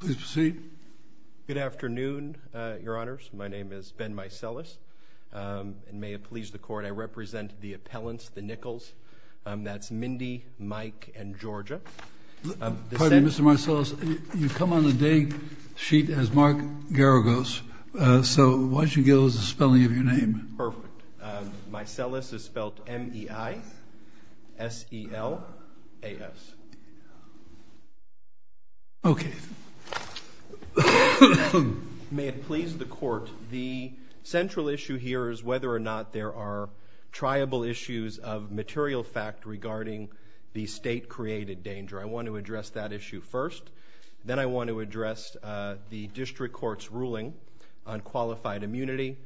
Please proceed. Good afternoon, Your Honors. My name is Ben Maicelis. May it please the Court, I represent the appellants, the Nichols. That's Mindy, Mike, and Georgia. Pardon me, Mr. Maicelis, you come on the day sheet as Mark Garagos, so why don't you give us the spelling of your name? Perfect. Maicelis is spelled M-E-I-S-E-L-A-S. Okay. May it please the Court, the central issue here is whether or not there are triable issues of material fact regarding the state-created danger. I want to address that issue first. Then I want to address the district court's ruling on qualified immunity.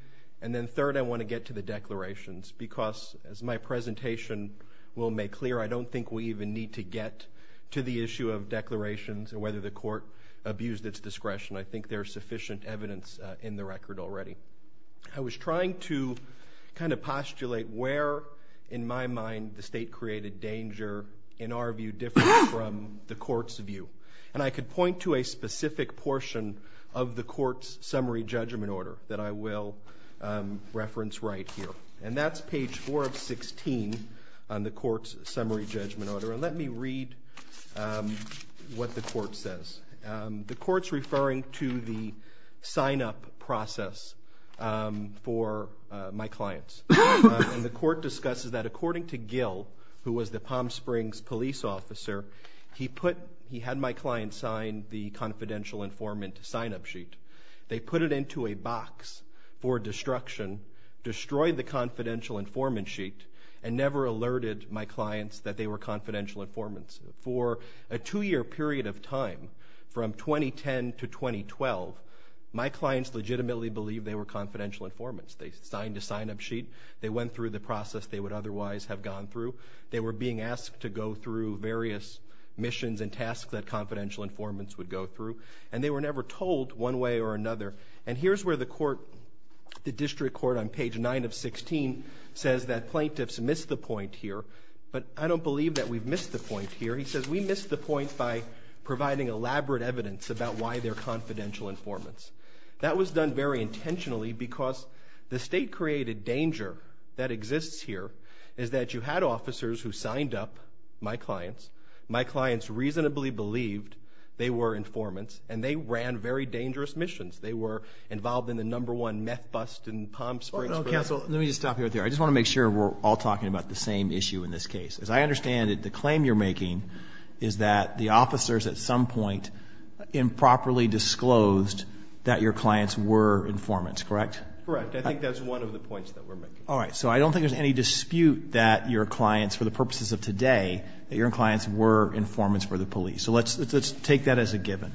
And then third, I want to get to the declarations because, as my presentation will make clear, I don't think we even need to get to the issue of declarations and whether the court abused its discretion. I think there's sufficient evidence in the record already. I was trying to kind of postulate where, in my mind, the state-created danger, in our view, differs from the court's view. And I could point to a specific portion of the court's summary judgment order that I will reference right here. And that's page 4 of 16 on the court's summary judgment order. And let me read what the court says. The court's referring to the sign-up process for my clients. And the court discusses that, according to Gil, who was the Palm Springs police officer, he had my client sign the confidential informant sign-up sheet. They put it into a box for destruction, destroyed the confidential informant sheet, and never alerted my clients that they were confidential informants. For a two-year period of time, from 2010 to 2012, my clients legitimately believed they were confidential informants. They signed a sign-up sheet. They went through the process they would otherwise have gone through. They were being asked to go through various missions and tasks that confidential informants would go through. And they were never told one way or another. And here's where the court, the district court on page 9 of 16, says that plaintiffs missed the point here. But I don't believe that we've missed the point here. He says we missed the point by providing elaborate evidence about why they're confidential informants. That was done very intentionally because the state-created danger that exists here is that you had officers who signed up my clients, my clients reasonably believed they were informants, and they ran very dangerous missions. They were involved in the number one meth bust in Palm Springs. Counsel, let me just stop you right there. I just want to make sure we're all talking about the same issue in this case. As I understand it, the claim you're making is that the officers at some point improperly disclosed that your clients were informants, correct? Correct. I think that's one of the points that we're making. All right, so I don't think there's any dispute that your clients, for the purposes of today, that your clients were informants for the police. So let's take that as a given.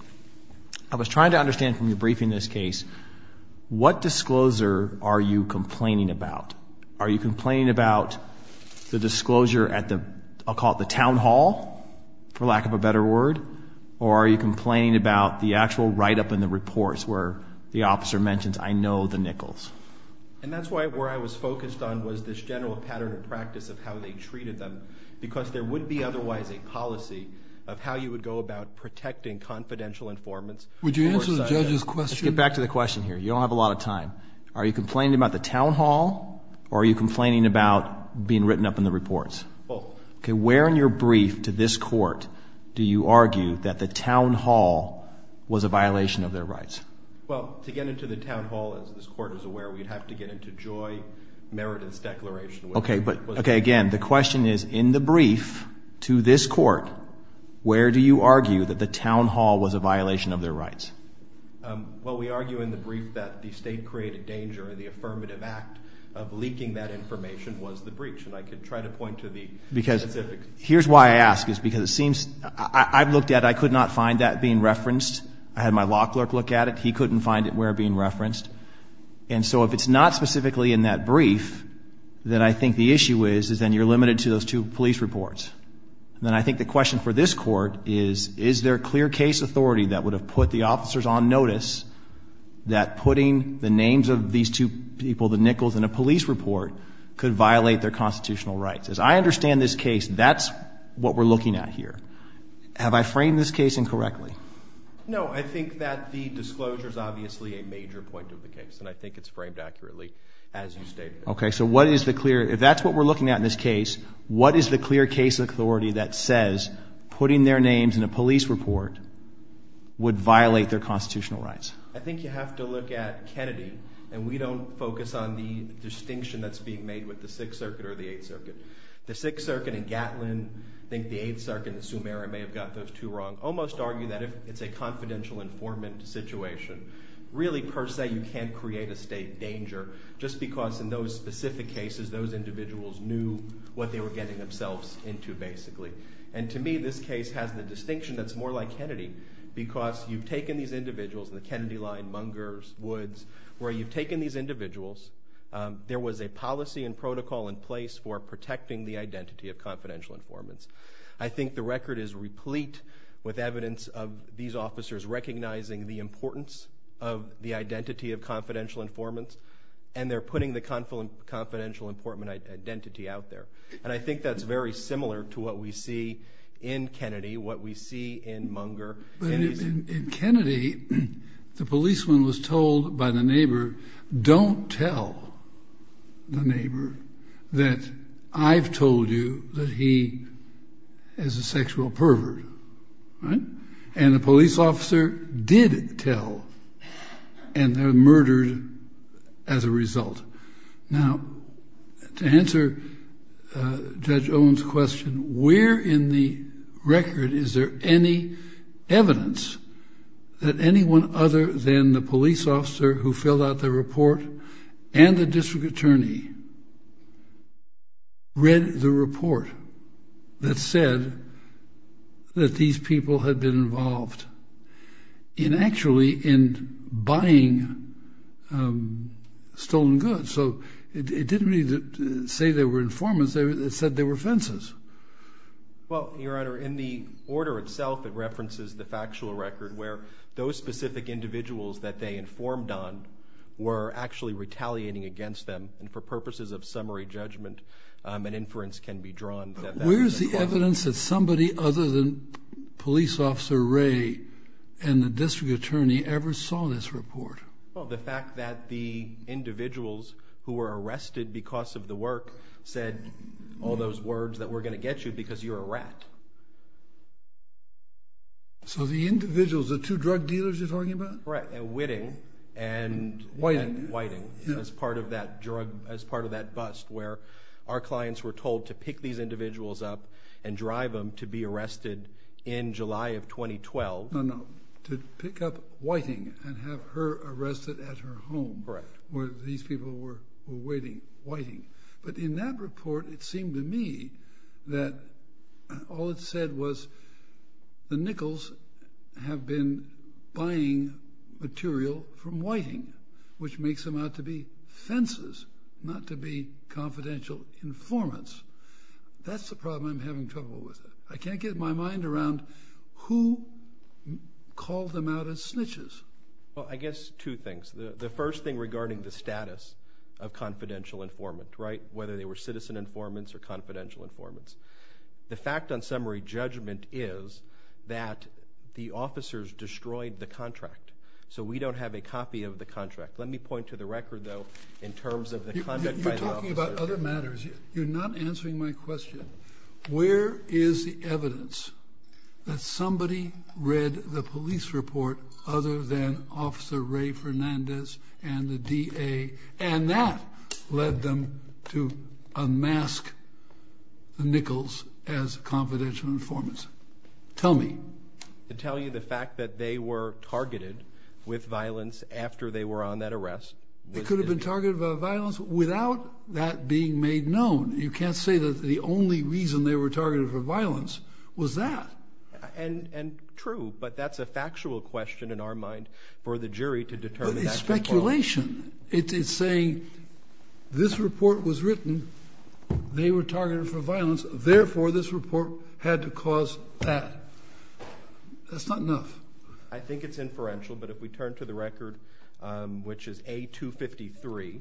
I was trying to understand from your briefing in this case, what discloser are you complaining about? Are you complaining about the disclosure at the, I'll call it the town hall, for lack of a better word, or are you complaining about the actual write-up in the reports where the officer mentions, I know the Nichols? And that's where I was focused on was this general pattern of practice of how they treated them because there wouldn't be otherwise a policy of how you would go about protecting confidential informants. Would you answer the judge's question? Let's get back to the question here. You don't have a lot of time. Are you complaining about the town hall or are you complaining about being written up in the reports? Both. Okay, where in your brief to this court do you argue that the town hall was a violation of their rights? Well, to get into the town hall, as this court is aware, we'd have to get into Joy Meredith's declaration. Okay, but again, the question is, in the brief to this court, where do you argue that the town hall was a violation of their rights? Well, we argue in the brief that the state created danger and the affirmative act of leaking that information was the breach. And I could try to point to the specifics. Because here's why I ask is because it seems, I've looked at it. I could not find that being referenced. I had my lock clerk look at it. He couldn't find it being referenced. And so if it's not specifically in that brief, then I think the issue is then you're limited to those two police reports. Then I think the question for this court is, is there clear case authority that would have put the officers on notice that putting the names of these two people, the Nichols, in a police report, could violate their constitutional rights? As I understand this case, that's what we're looking at here. Have I framed this case incorrectly? No, I think that the disclosure is obviously a major point of the case, and I think it's framed accurately as you state it. Okay, so what is the clear, if that's what we're looking at in this case, what is the clear case authority that says putting their names in a police report would violate their constitutional rights? I think you have to look at Kennedy, and we don't focus on the distinction that's being made with the 6th Circuit or the 8th Circuit. The 6th Circuit and Gatlin, I think the 8th Circuit, the Sumeria may have got those two wrong, almost argue that it's a confidential informant situation. Really, per se, you can't create a state danger just because in those specific cases those individuals knew what they were getting themselves into, basically. And to me, this case has the distinction that's more like Kennedy because you've taken these individuals, the Kennedy line, Mungers, Woods, where you've taken these individuals, there was a policy and protocol in place for protecting the identity of confidential informants. I think the record is replete with evidence of these officers recognizing the importance of the identity of confidential informants, and they're putting the confidential informant identity out there. And I think that's very similar to what we see in Kennedy, what we see in Munger. In Kennedy, the policeman was told by the neighbor, don't tell the neighbor that I've told you that he is a sexual pervert. And the police officer did tell, and they were murdered as a result. Now, to answer Judge Owen's question, where in the record is there any evidence that anyone other than the police officer who filled out the report and the district attorney read the report that said that these people had been involved in actually in buying stolen goods? So it didn't say they were informants, it said they were fences. Well, Your Honor, in the order itself, it references the factual record where those specific individuals that they informed on were actually retaliating against them, and for purposes of summary judgment, an inference can be drawn. Where is the evidence that somebody other than police officer Ray and the district attorney ever saw this report? Well, the fact that the individuals who were arrested because of the work said all those words that we're going to get you because you're a rat. So the individuals, the two drug dealers you're talking about? Right, Whitting and Whiting as part of that drug, as part of that bust where our clients were told to pick these individuals up and drive them to be arrested in July of 2012. No, no, to pick up Whiting and have her arrested at her home. Correct. Where these people were waiting, Whiting. But in that report, it seemed to me that all it said was the Nichols have been buying material from Whiting, which makes them out to be fences, not to be confidential informants. That's the problem I'm having trouble with. I can't get my mind around who called them out as snitches. Well, I guess two things. The first thing regarding the status of confidential informant, right, whether they were citizen informants or confidential informants. The fact on summary judgment is that the officers destroyed the contract, so we don't have a copy of the contract. Let me point to the record, though, in terms of the conduct by the officers. You're talking about other matters. You're not answering my question. Where is the evidence that somebody read the police report other than Officer Ray Fernandez and the DA, and that led them to unmask the Nichols as confidential informants? Tell me. To tell you the fact that they were targeted with violence after they were on that arrest. They could have been targeted by violence without that being made known. You can't say that the only reason they were targeted for violence was that. True, but that's a factual question in our mind for the jury to determine that. But it's speculation. It's saying this report was written, they were targeted for violence, therefore this report had to cause that. That's not enough. I think it's inferential, but if we turn to the record, which is A253,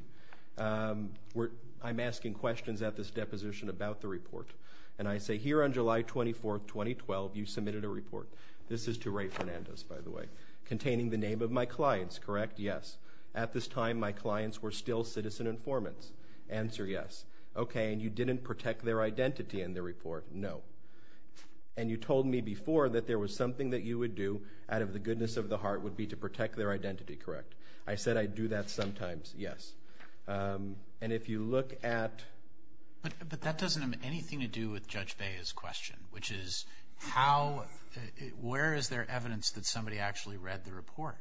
I'm asking questions at this deposition about the report, and I say, Here on July 24, 2012, you submitted a report. This is to Ray Fernandez, by the way. Containing the name of my clients, correct? Yes. At this time, my clients were still citizen informants. Answer, yes. Okay, and you didn't protect their identity in the report? No. And you told me before that there was something that you would do, out of the goodness of the heart, would be to protect their identity, correct? I said I do that sometimes, yes. And if you look at But that doesn't have anything to do with Judge Bea's question, which is where is there evidence that somebody actually read the report?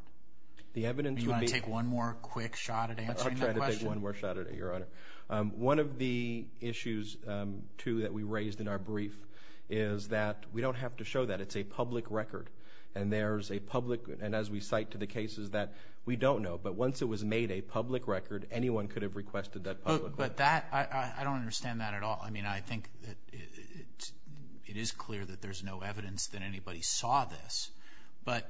The evidence would be Do you want to take one more quick shot at answering that question? I'll try to take one more shot at it, Your Honor. One of the issues, too, that we raised in our brief is that we don't have to show that. It's a public record, and as we cite to the cases, that we don't know. But once it was made a public record, anyone could have requested that public record. But that, I don't understand that at all. I mean, I think that it is clear that there's no evidence that anybody saw this. But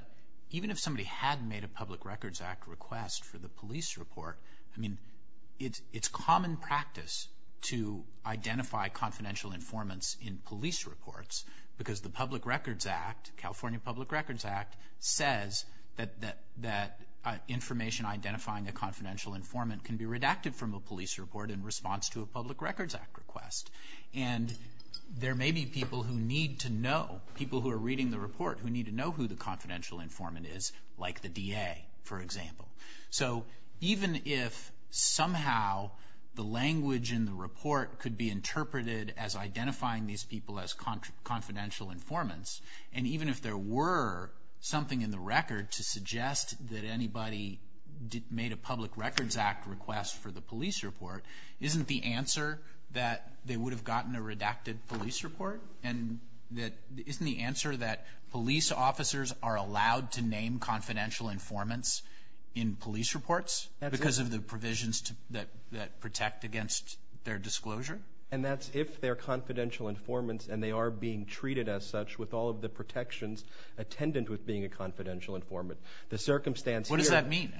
even if somebody had made a Public Records Act request for the police report, I mean, it's common practice to identify confidential informants in police reports because the Public Records Act, California Public Records Act, says that information identifying a confidential informant can be redacted from a police report in response to a Public Records Act request. And there may be people who need to know, people who are reading the report, who need to know who the confidential informant is, like the DA, for example. So even if somehow the language in the report could be interpreted as identifying these people as confidential informants, and even if there were something in the record to suggest that anybody made a Public Records Act request for the police report, isn't the answer that they would have gotten a redacted police report? And isn't the answer that police officers are allowed to name confidential informants in police reports because of the provisions that protect against their disclosure? And that's if they're confidential informants and they are being treated as such with all of the protections attendant with being a confidential informant. What does that mean?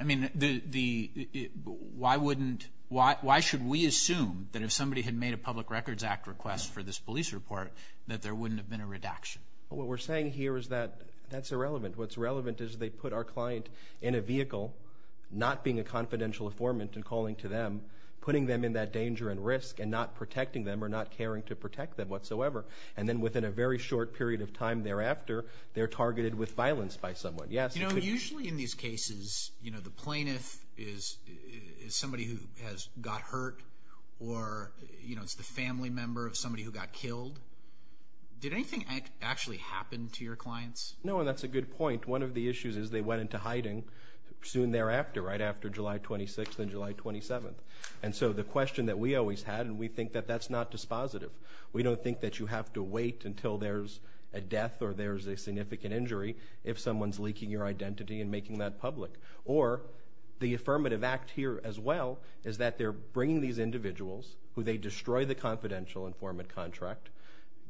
Why should we assume that if somebody had made a Public Records Act request for this police report that there wouldn't have been a redaction? What we're saying here is that that's irrelevant. What's relevant is they put our client in a vehicle, not being a confidential informant and calling to them, putting them in that danger and risk and not protecting them or not caring to protect them whatsoever. And then within a very short period of time thereafter, they're targeted with violence by someone. Usually in these cases, the plaintiff is somebody who has got hurt or is the family member of somebody who got killed. Did anything actually happen to your clients? No, and that's a good point. One of the issues is they went into hiding soon thereafter, right after July 26th and July 27th. And so the question that we always had, and we think that that's not dispositive. We don't think that you have to wait until there's a death or there's a significant injury if someone's leaking your identity and making that public. Or the affirmative act here as well is that they're bringing these individuals who they destroy the confidential informant contract,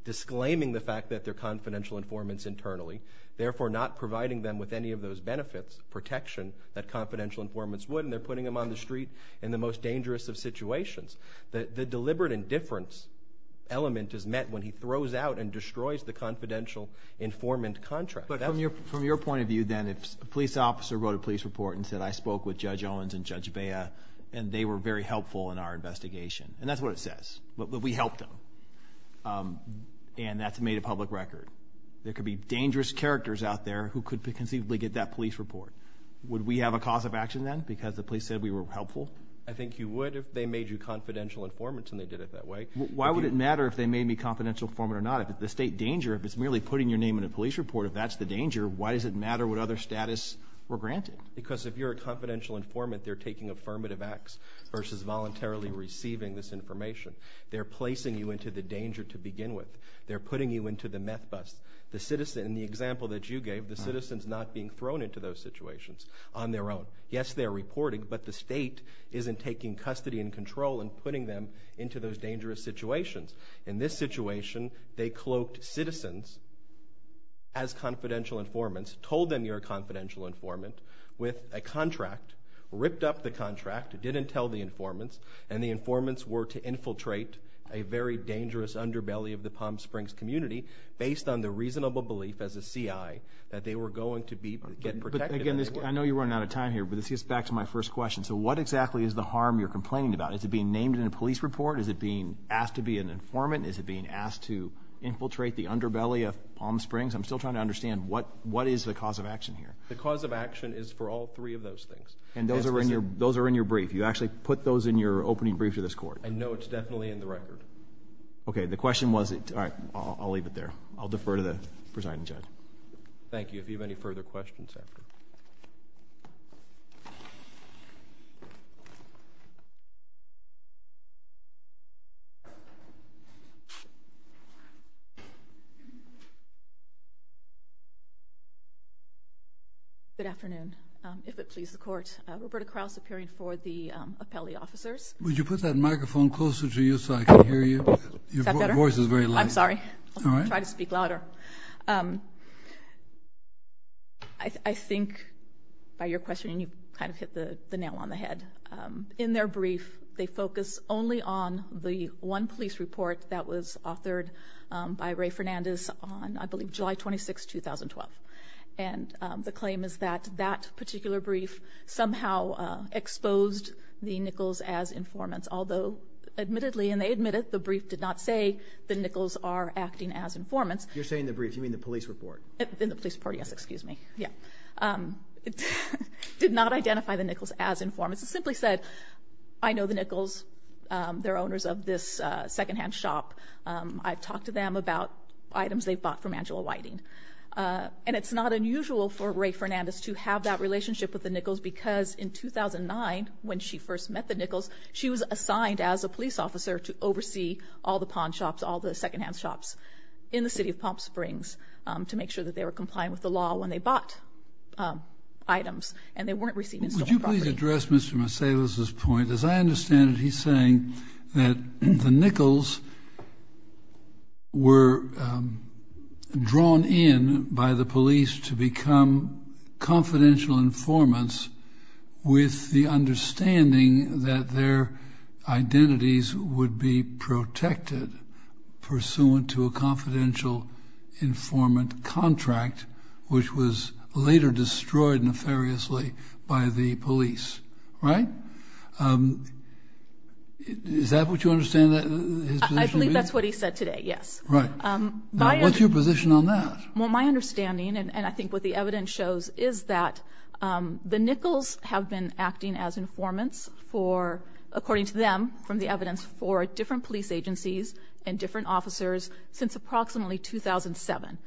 disclaiming the fact that they're confidential informants internally, therefore not providing them with any of those benefits, protection that confidential informants would, and they're putting them on the street in the most dangerous of situations. The deliberate indifference element is met when he throws out and destroys the confidential informant contract. But from your point of view then, if a police officer wrote a police report and said, I spoke with Judge Owens and Judge Bea and they were very helpful in our investigation, and that's what it says, that we helped them, and that's made a public record, there could be dangerous characters out there who could conceivably get that police report. Would we have a cause of action then because the police said we were helpful? I think you would if they made you confidential informants and they did it that way. Why would it matter if they made me a confidential informant or not? If it's a state danger, if it's merely putting your name in a police report, if that's the danger, why does it matter what other status we're granted? Because if you're a confidential informant, they're taking affirmative acts versus voluntarily receiving this information. They're placing you into the danger to begin with. They're putting you into the meth bust. In the example that you gave, the citizen's not being thrown into those situations on their own. Yes, they're reporting, but the state isn't taking custody and control and putting them into those dangerous situations. In this situation, they cloaked citizens as confidential informants, told them you're a confidential informant with a contract, ripped up the contract, didn't tell the informants, and the informants were to infiltrate a very dangerous underbelly of the Palm Springs community based on the reasonable belief as a CI that they were going to get protected. I know you're running out of time here, but this gets back to my first question. So what exactly is the harm you're complaining about? Is it being named in a police report? Is it being asked to be an informant? Is it being asked to infiltrate the underbelly of Palm Springs? I'm still trying to understand what is the cause of action here. The cause of action is for all three of those things. And those are in your brief. You actually put those in your opening brief to this court. I know it's definitely in the record. Okay, the question was it. All right, I'll leave it there. I'll defer to the presiding judge. Thank you. If you have any further questions after. Thank you. Good afternoon, if it please the Court. Roberta Krause appearing for the appellee officers. Would you put that microphone closer to you so I can hear you? Is that better? Your voice is very low. I'm sorry. I'll try to speak louder. I think by your question, you kind of hit the nail on the head. In their brief, they focus only on the one police report that was authored by Ray Fernandez on, I believe, July 26, 2012. And the claim is that that particular brief somehow exposed the Nichols as informants. Although, admittedly, and they admit it, the brief did not say that Nichols are acting as informants. You're saying the brief. You mean the police report. In the police report, yes. Excuse me. It did not identify the Nichols as informants. It simply said, I know the Nichols. They're owners of this secondhand shop. I've talked to them about items they've bought from Angela Whiting. And it's not unusual for Ray Fernandez to have that relationship with the Nichols because in 2009, when she first met the Nichols, she was assigned as a police officer to oversee all the pawn shops, all the secondhand shops in the city of Palm Springs, to make sure that they were compliant with the law when they bought items and they weren't receiving stolen property. Would you please address Mr. Marcellus's point? As I understand it, he's saying that the Nichols were drawn in by the police to become confidential informants with the understanding that their identities would be protected pursuant to a confidential informant contract, which was later destroyed nefariously by the police. Right? Is that what you understand his position to be? I believe that's what he said today, yes. Right. What's your position on that? Well, my understanding, and I think what the evidence shows, is that the Nichols have been acting as informants for, according to them, from the evidence, for different police agencies and different officers since approximately 2007.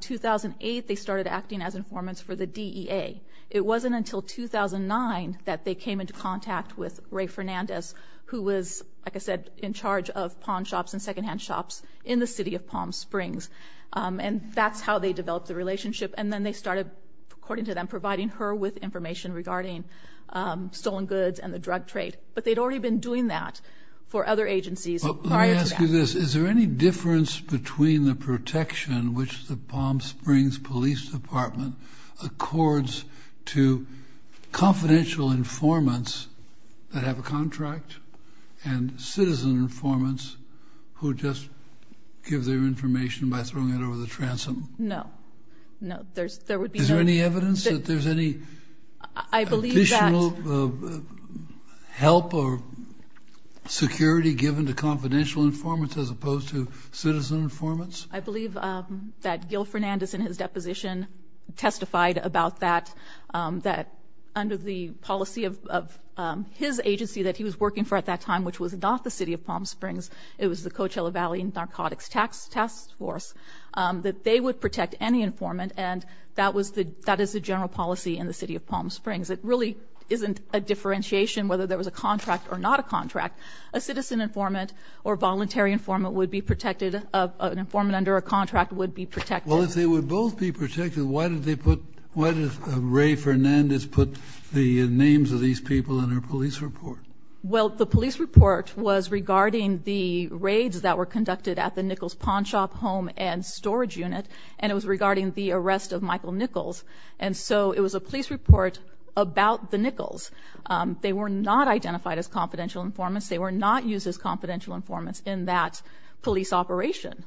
2008, they started acting as informants for the DEA. It wasn't until 2009 that they came into contact with Ray Fernandez, who was, like I said, in charge of pawn shops and secondhand shops in the city of Palm Springs. And that's how they developed the relationship. And then they started, according to them, providing her with information regarding stolen goods and the drug trade. But they'd already been doing that for other agencies prior to that. Is there any difference between the protection which the Palm Springs Police Department accords to confidential informants that have a contract and citizen informants who just give their information by throwing it over the transom? No. No, there would be no... Is there any evidence that there's any additional help or security given to confidential informants as opposed to citizen informants? I believe that Gil Fernandez in his deposition testified about that, that under the policy of his agency that he was working for at that time, which was not the city of Palm Springs, it was the Coachella Valley Narcotics Task Force, that they would protect any informant. And that is the general policy in the city of Palm Springs. It really isn't a differentiation whether there was a contract or not a contract. A citizen informant or voluntary informant would be protected. An informant under a contract would be protected. Well, if they would both be protected, why did Ray Fernandez put the names of these people in her police report? Well, the police report was regarding the raids that were conducted at the Nichols Pawn Shop home and storage unit, and it was regarding the arrest of Michael Nichols. And so it was a police report about the Nichols. They were not identified as confidential informants. They were not used as confidential informants in that police operation.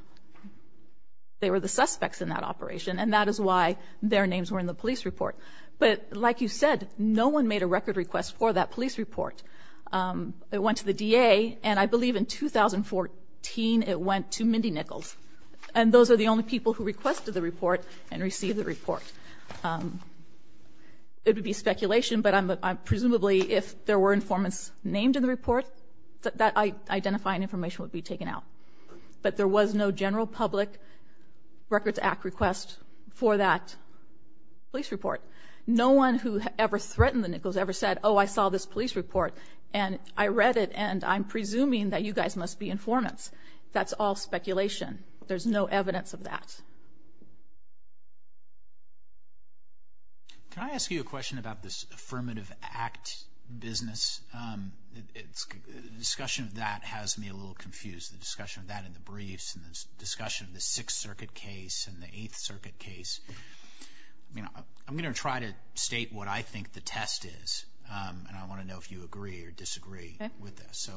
They were the suspects in that operation, and that is why their names were in the police report. But like you said, no one made a record request for that police report. It went to the DA, and I believe in 2014 it went to Mindy Nichols. And those are the only people who requested the report and received the report. It would be speculation, but presumably if there were informants named in the report, that identifying information would be taken out. But there was no general public Records Act request for that police report. No one who ever threatened the Nichols ever said, oh, I saw this police report, and I read it, and I'm presuming that you guys must be informants. That's all speculation. There's no evidence of that. Can I ask you a question about this Affirmative Act business? The discussion of that has me a little confused, the discussion of that in the briefs and the discussion of the Sixth Circuit case and the Eighth Circuit case. I'm going to try to state what I think the test is, and I want to know if you agree or disagree with this.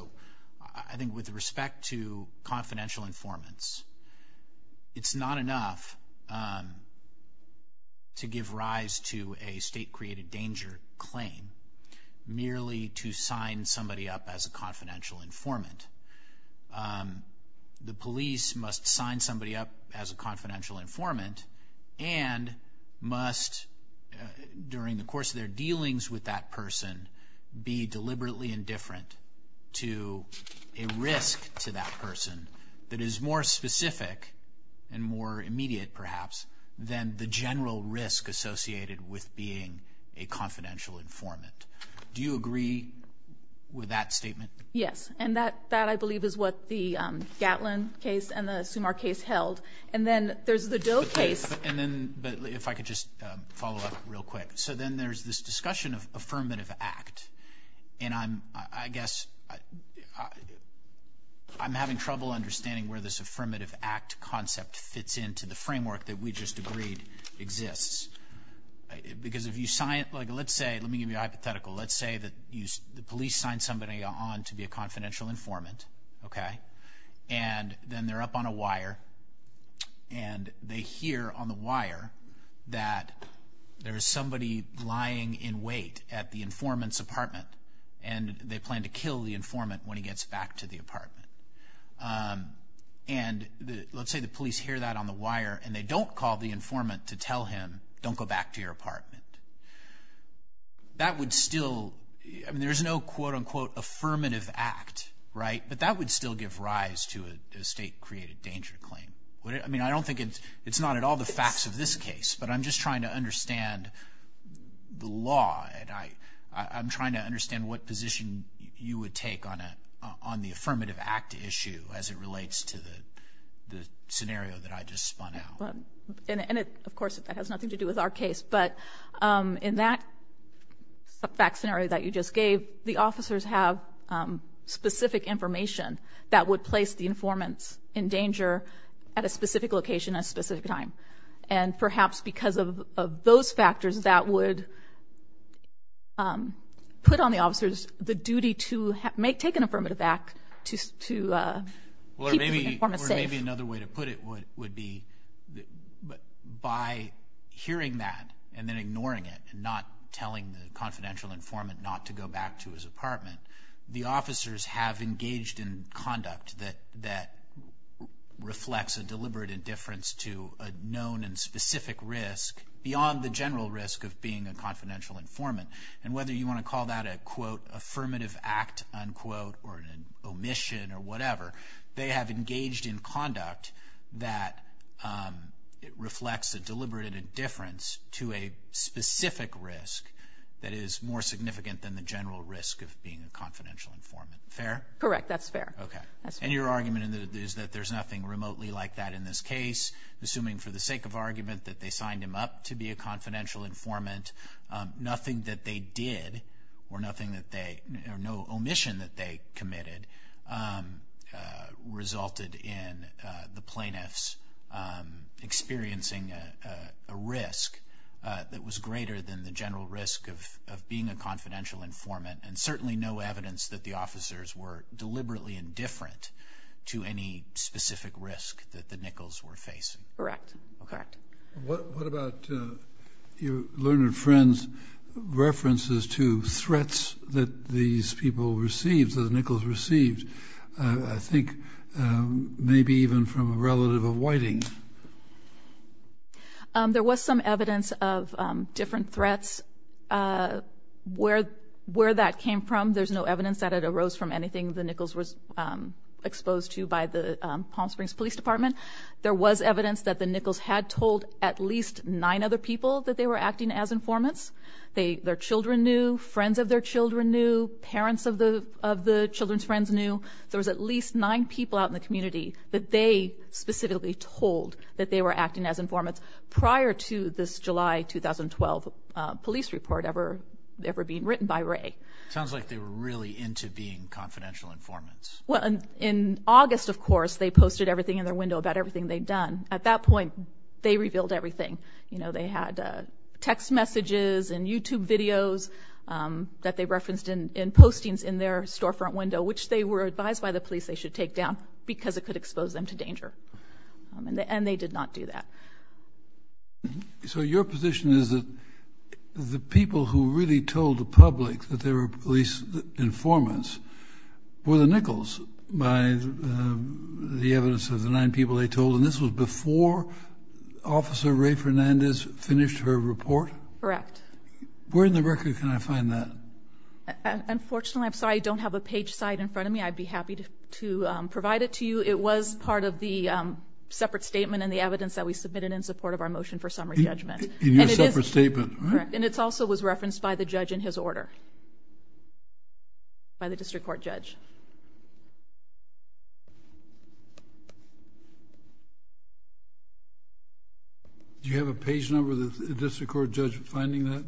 I think with respect to confidential informants, it's not enough to give rise to a state-created danger claim merely to sign somebody up as a confidential informant. The police must sign somebody up as a confidential informant and must, during the course of their dealings with that person, be deliberately indifferent to a risk to that person that is more specific and more immediate, perhaps, than the general risk associated with being a confidential informant. Do you agree with that statement? Yes, and that, I believe, is what the Gatlin case and the Sumar case held. And then there's the Doe case. If I could just follow up real quick. So then there's this discussion of affirmative act, and I'm, I guess, I'm having trouble understanding where this affirmative act concept fits into the framework that we just agreed exists. Because if you sign it, like, let's say, let me give you a hypothetical. Let's say that the police sign somebody on to be a confidential informant, okay? And then they're up on a wire, and they hear on the wire that there is somebody lying in wait at the informant's apartment, and they plan to kill the informant when he gets back to the apartment. And let's say the police hear that on the wire, and they don't call the informant to tell him, don't go back to your apartment. That would still, I mean, there's no, quote, unquote, affirmative act, right? But that would still give rise to a state-created danger claim. I mean, I don't think it's not at all the facts of this case, but I'm just trying to understand the law, and I'm trying to understand what position you would take on the affirmative act issue as it relates to the scenario that I just spun out. And, of course, that has nothing to do with our case. But in that fact scenario that you just gave, the officers have specific information that would place the informant in danger at a specific location at a specific time. And perhaps because of those factors, that would put on the officers the duty to take an affirmative act to keep the informant safe. Or maybe another way to put it would be by hearing that and then ignoring it and not telling the confidential informant not to go back to his apartment, the officers have engaged in conduct that reflects a deliberate indifference to a known and specific risk beyond the general risk of being a confidential informant. And whether you want to call that a, quote, affirmative act, unquote, or an omission or whatever, they have engaged in conduct that reflects a deliberate indifference to a specific risk that is more significant than the general risk of being a confidential informant. Fair? Correct. That's fair. Okay. And your argument is that there's nothing remotely like that in this case, assuming for the sake of argument that they signed him up to be a confidential informant, nothing that they did or no omission that they committed resulted in the plaintiffs experiencing a risk that was greater than the general risk of being a confidential informant and certainly no evidence that the officers were deliberately indifferent to any specific risk that the Nichols were facing. Correct. Okay. What about your learned friend's references to threats that these people received, that the Nichols received, I think maybe even from a relative of Whiting? There was some evidence of different threats. Where that came from, there's no evidence that it arose from anything the Nichols was exposed to by the Palm Springs Police Department. There was evidence that the Nichols had told at least nine other people that they were acting as informants. Their children knew, friends of their children knew, parents of the children's friends knew. There was at least nine people out in the community that they specifically told that they were acting as informants prior to this July 2012 police report ever being written by Wray. Sounds like they were really into being confidential informants. Well, in August, of course, they posted everything in their window about everything they'd done. At that point, they revealed everything. They had text messages and YouTube videos that they referenced in postings in their storefront window, which they were advised by the police they should take down because it could expose them to danger. And they did not do that. So your position is that the people who really told the public that they were police informants were the Nichols by the evidence of the nine people they told, and this was before Officer Ray Fernandez finished her report? Correct. Where in the record can I find that? Unfortunately, I'm sorry, I don't have a page cite in front of me. I'd be happy to provide it to you. It was part of the separate statement and the evidence that we submitted in support of our motion for summary judgment. In your separate statement? Correct. And it also was referenced by the judge in his order, by the district court judge. Do you have a page number of the district court judge finding that?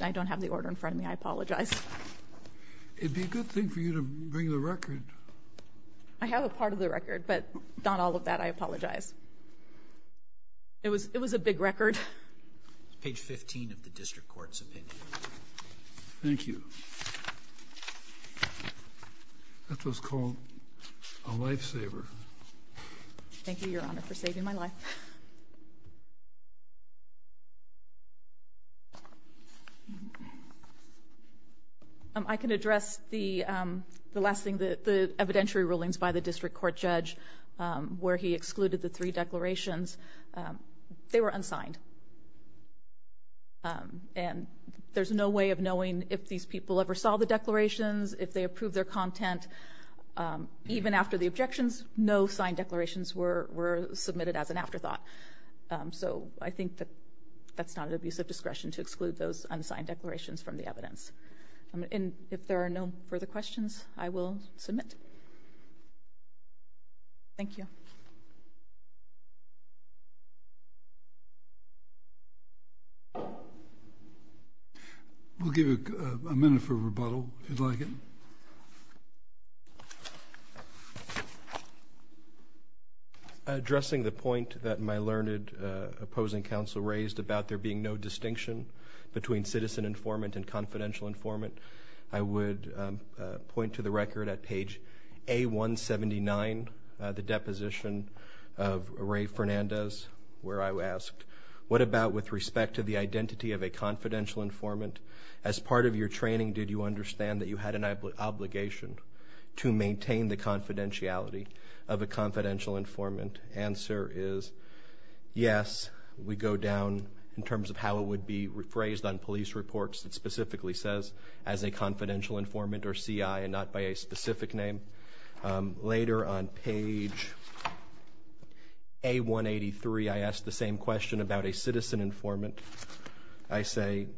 I don't have the order in front of me. I apologize. It'd be a good thing for you to bring the record. I have a part of the record, but not all of that. I apologize. It was a big record. Page 15 of the district court's opinion. Thank you. That's what's called a lifesaver. Thank you, Your Honor, for saving my life. I can address the last thing, the evidentiary rulings by the district court judge, where he excluded the three declarations. They were unsigned. And there's no way of knowing if these people ever saw the declarations, if they approved their content. Even after the objections, no signed declarations were submitted as an afterthought. So I think that that's not an abuse of discretion to exclude those unsigned declarations from the evidence. And if there are no further questions, I will submit. Thank you. We'll give a minute for rebuttal, if you'd like it. Thank you. Addressing the point that my learned opposing counsel raised about there being no distinction between citizen informant and confidential informant, I would point to the record at page A179, the deposition of Ray Fernandez, where I asked, what about with respect to the identity of a confidential informant? As part of your training, did you understand that you had an obligation to maintain the confidentiality of a confidential informant? Answer is yes. We go down in terms of how it would be rephrased on police reports. It specifically says as a confidential informant or CI and not by a specific name. Later on page A183, I asked the same question about a citizen informant. I say,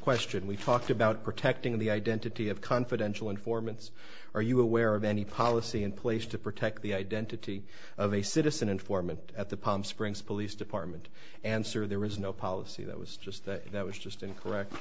question, we talked about protecting the identity of confidential informants. Are you aware of any policy in place to protect the identity of a citizen informant at the Palm Springs Police Department? Answer, there is no policy. That was just incorrect.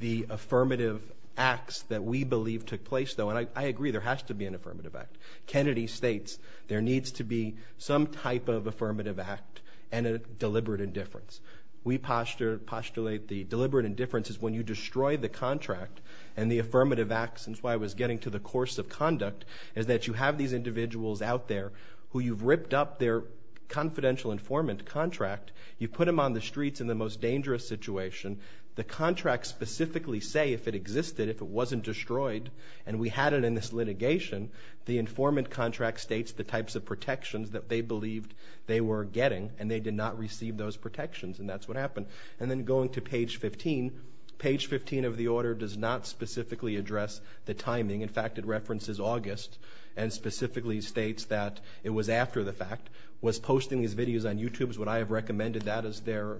The affirmative acts that we believe took place, though, and I agree there has to be an affirmative act. Kennedy states there needs to be some type of affirmative act and a deliberate indifference. We postulate the deliberate indifference is when you destroy the contract and the affirmative act, since I was getting to the course of conduct, is that you have these individuals out there who you've ripped up their confidential informant contract. You put them on the streets in the most dangerous situation. The contracts specifically say if it existed, if it wasn't destroyed, and we had it in this litigation, the informant contract states the types of protections that they believed they were getting and they did not receive those protections, and that's what happened. And then going to page 15, page 15 of the order does not specifically address the timing. In fact, it references August and specifically states that it was after the fact, was posting these videos on YouTube. Would I have recommended that as their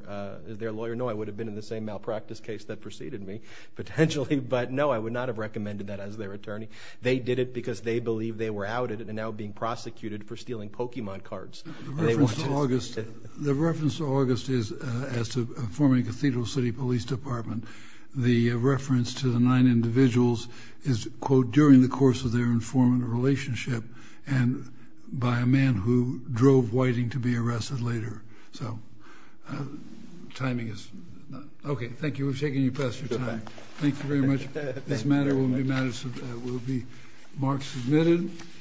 lawyer? No, I would have been in the same malpractice case that preceded me, potentially, but no, I would not have recommended that as their attorney. They did it because they believed they were outed and now being prosecuted for stealing Pokemon cards. The reference to August is as to a former Cathedral City Police Department. The reference to the nine individuals is, quote, during the course of their informant relationship and by a man who drove Whiting to be arrested later. So timing is not—okay, thank you. We've taken you past your time. Thank you very much. This matter will be marked as submitted.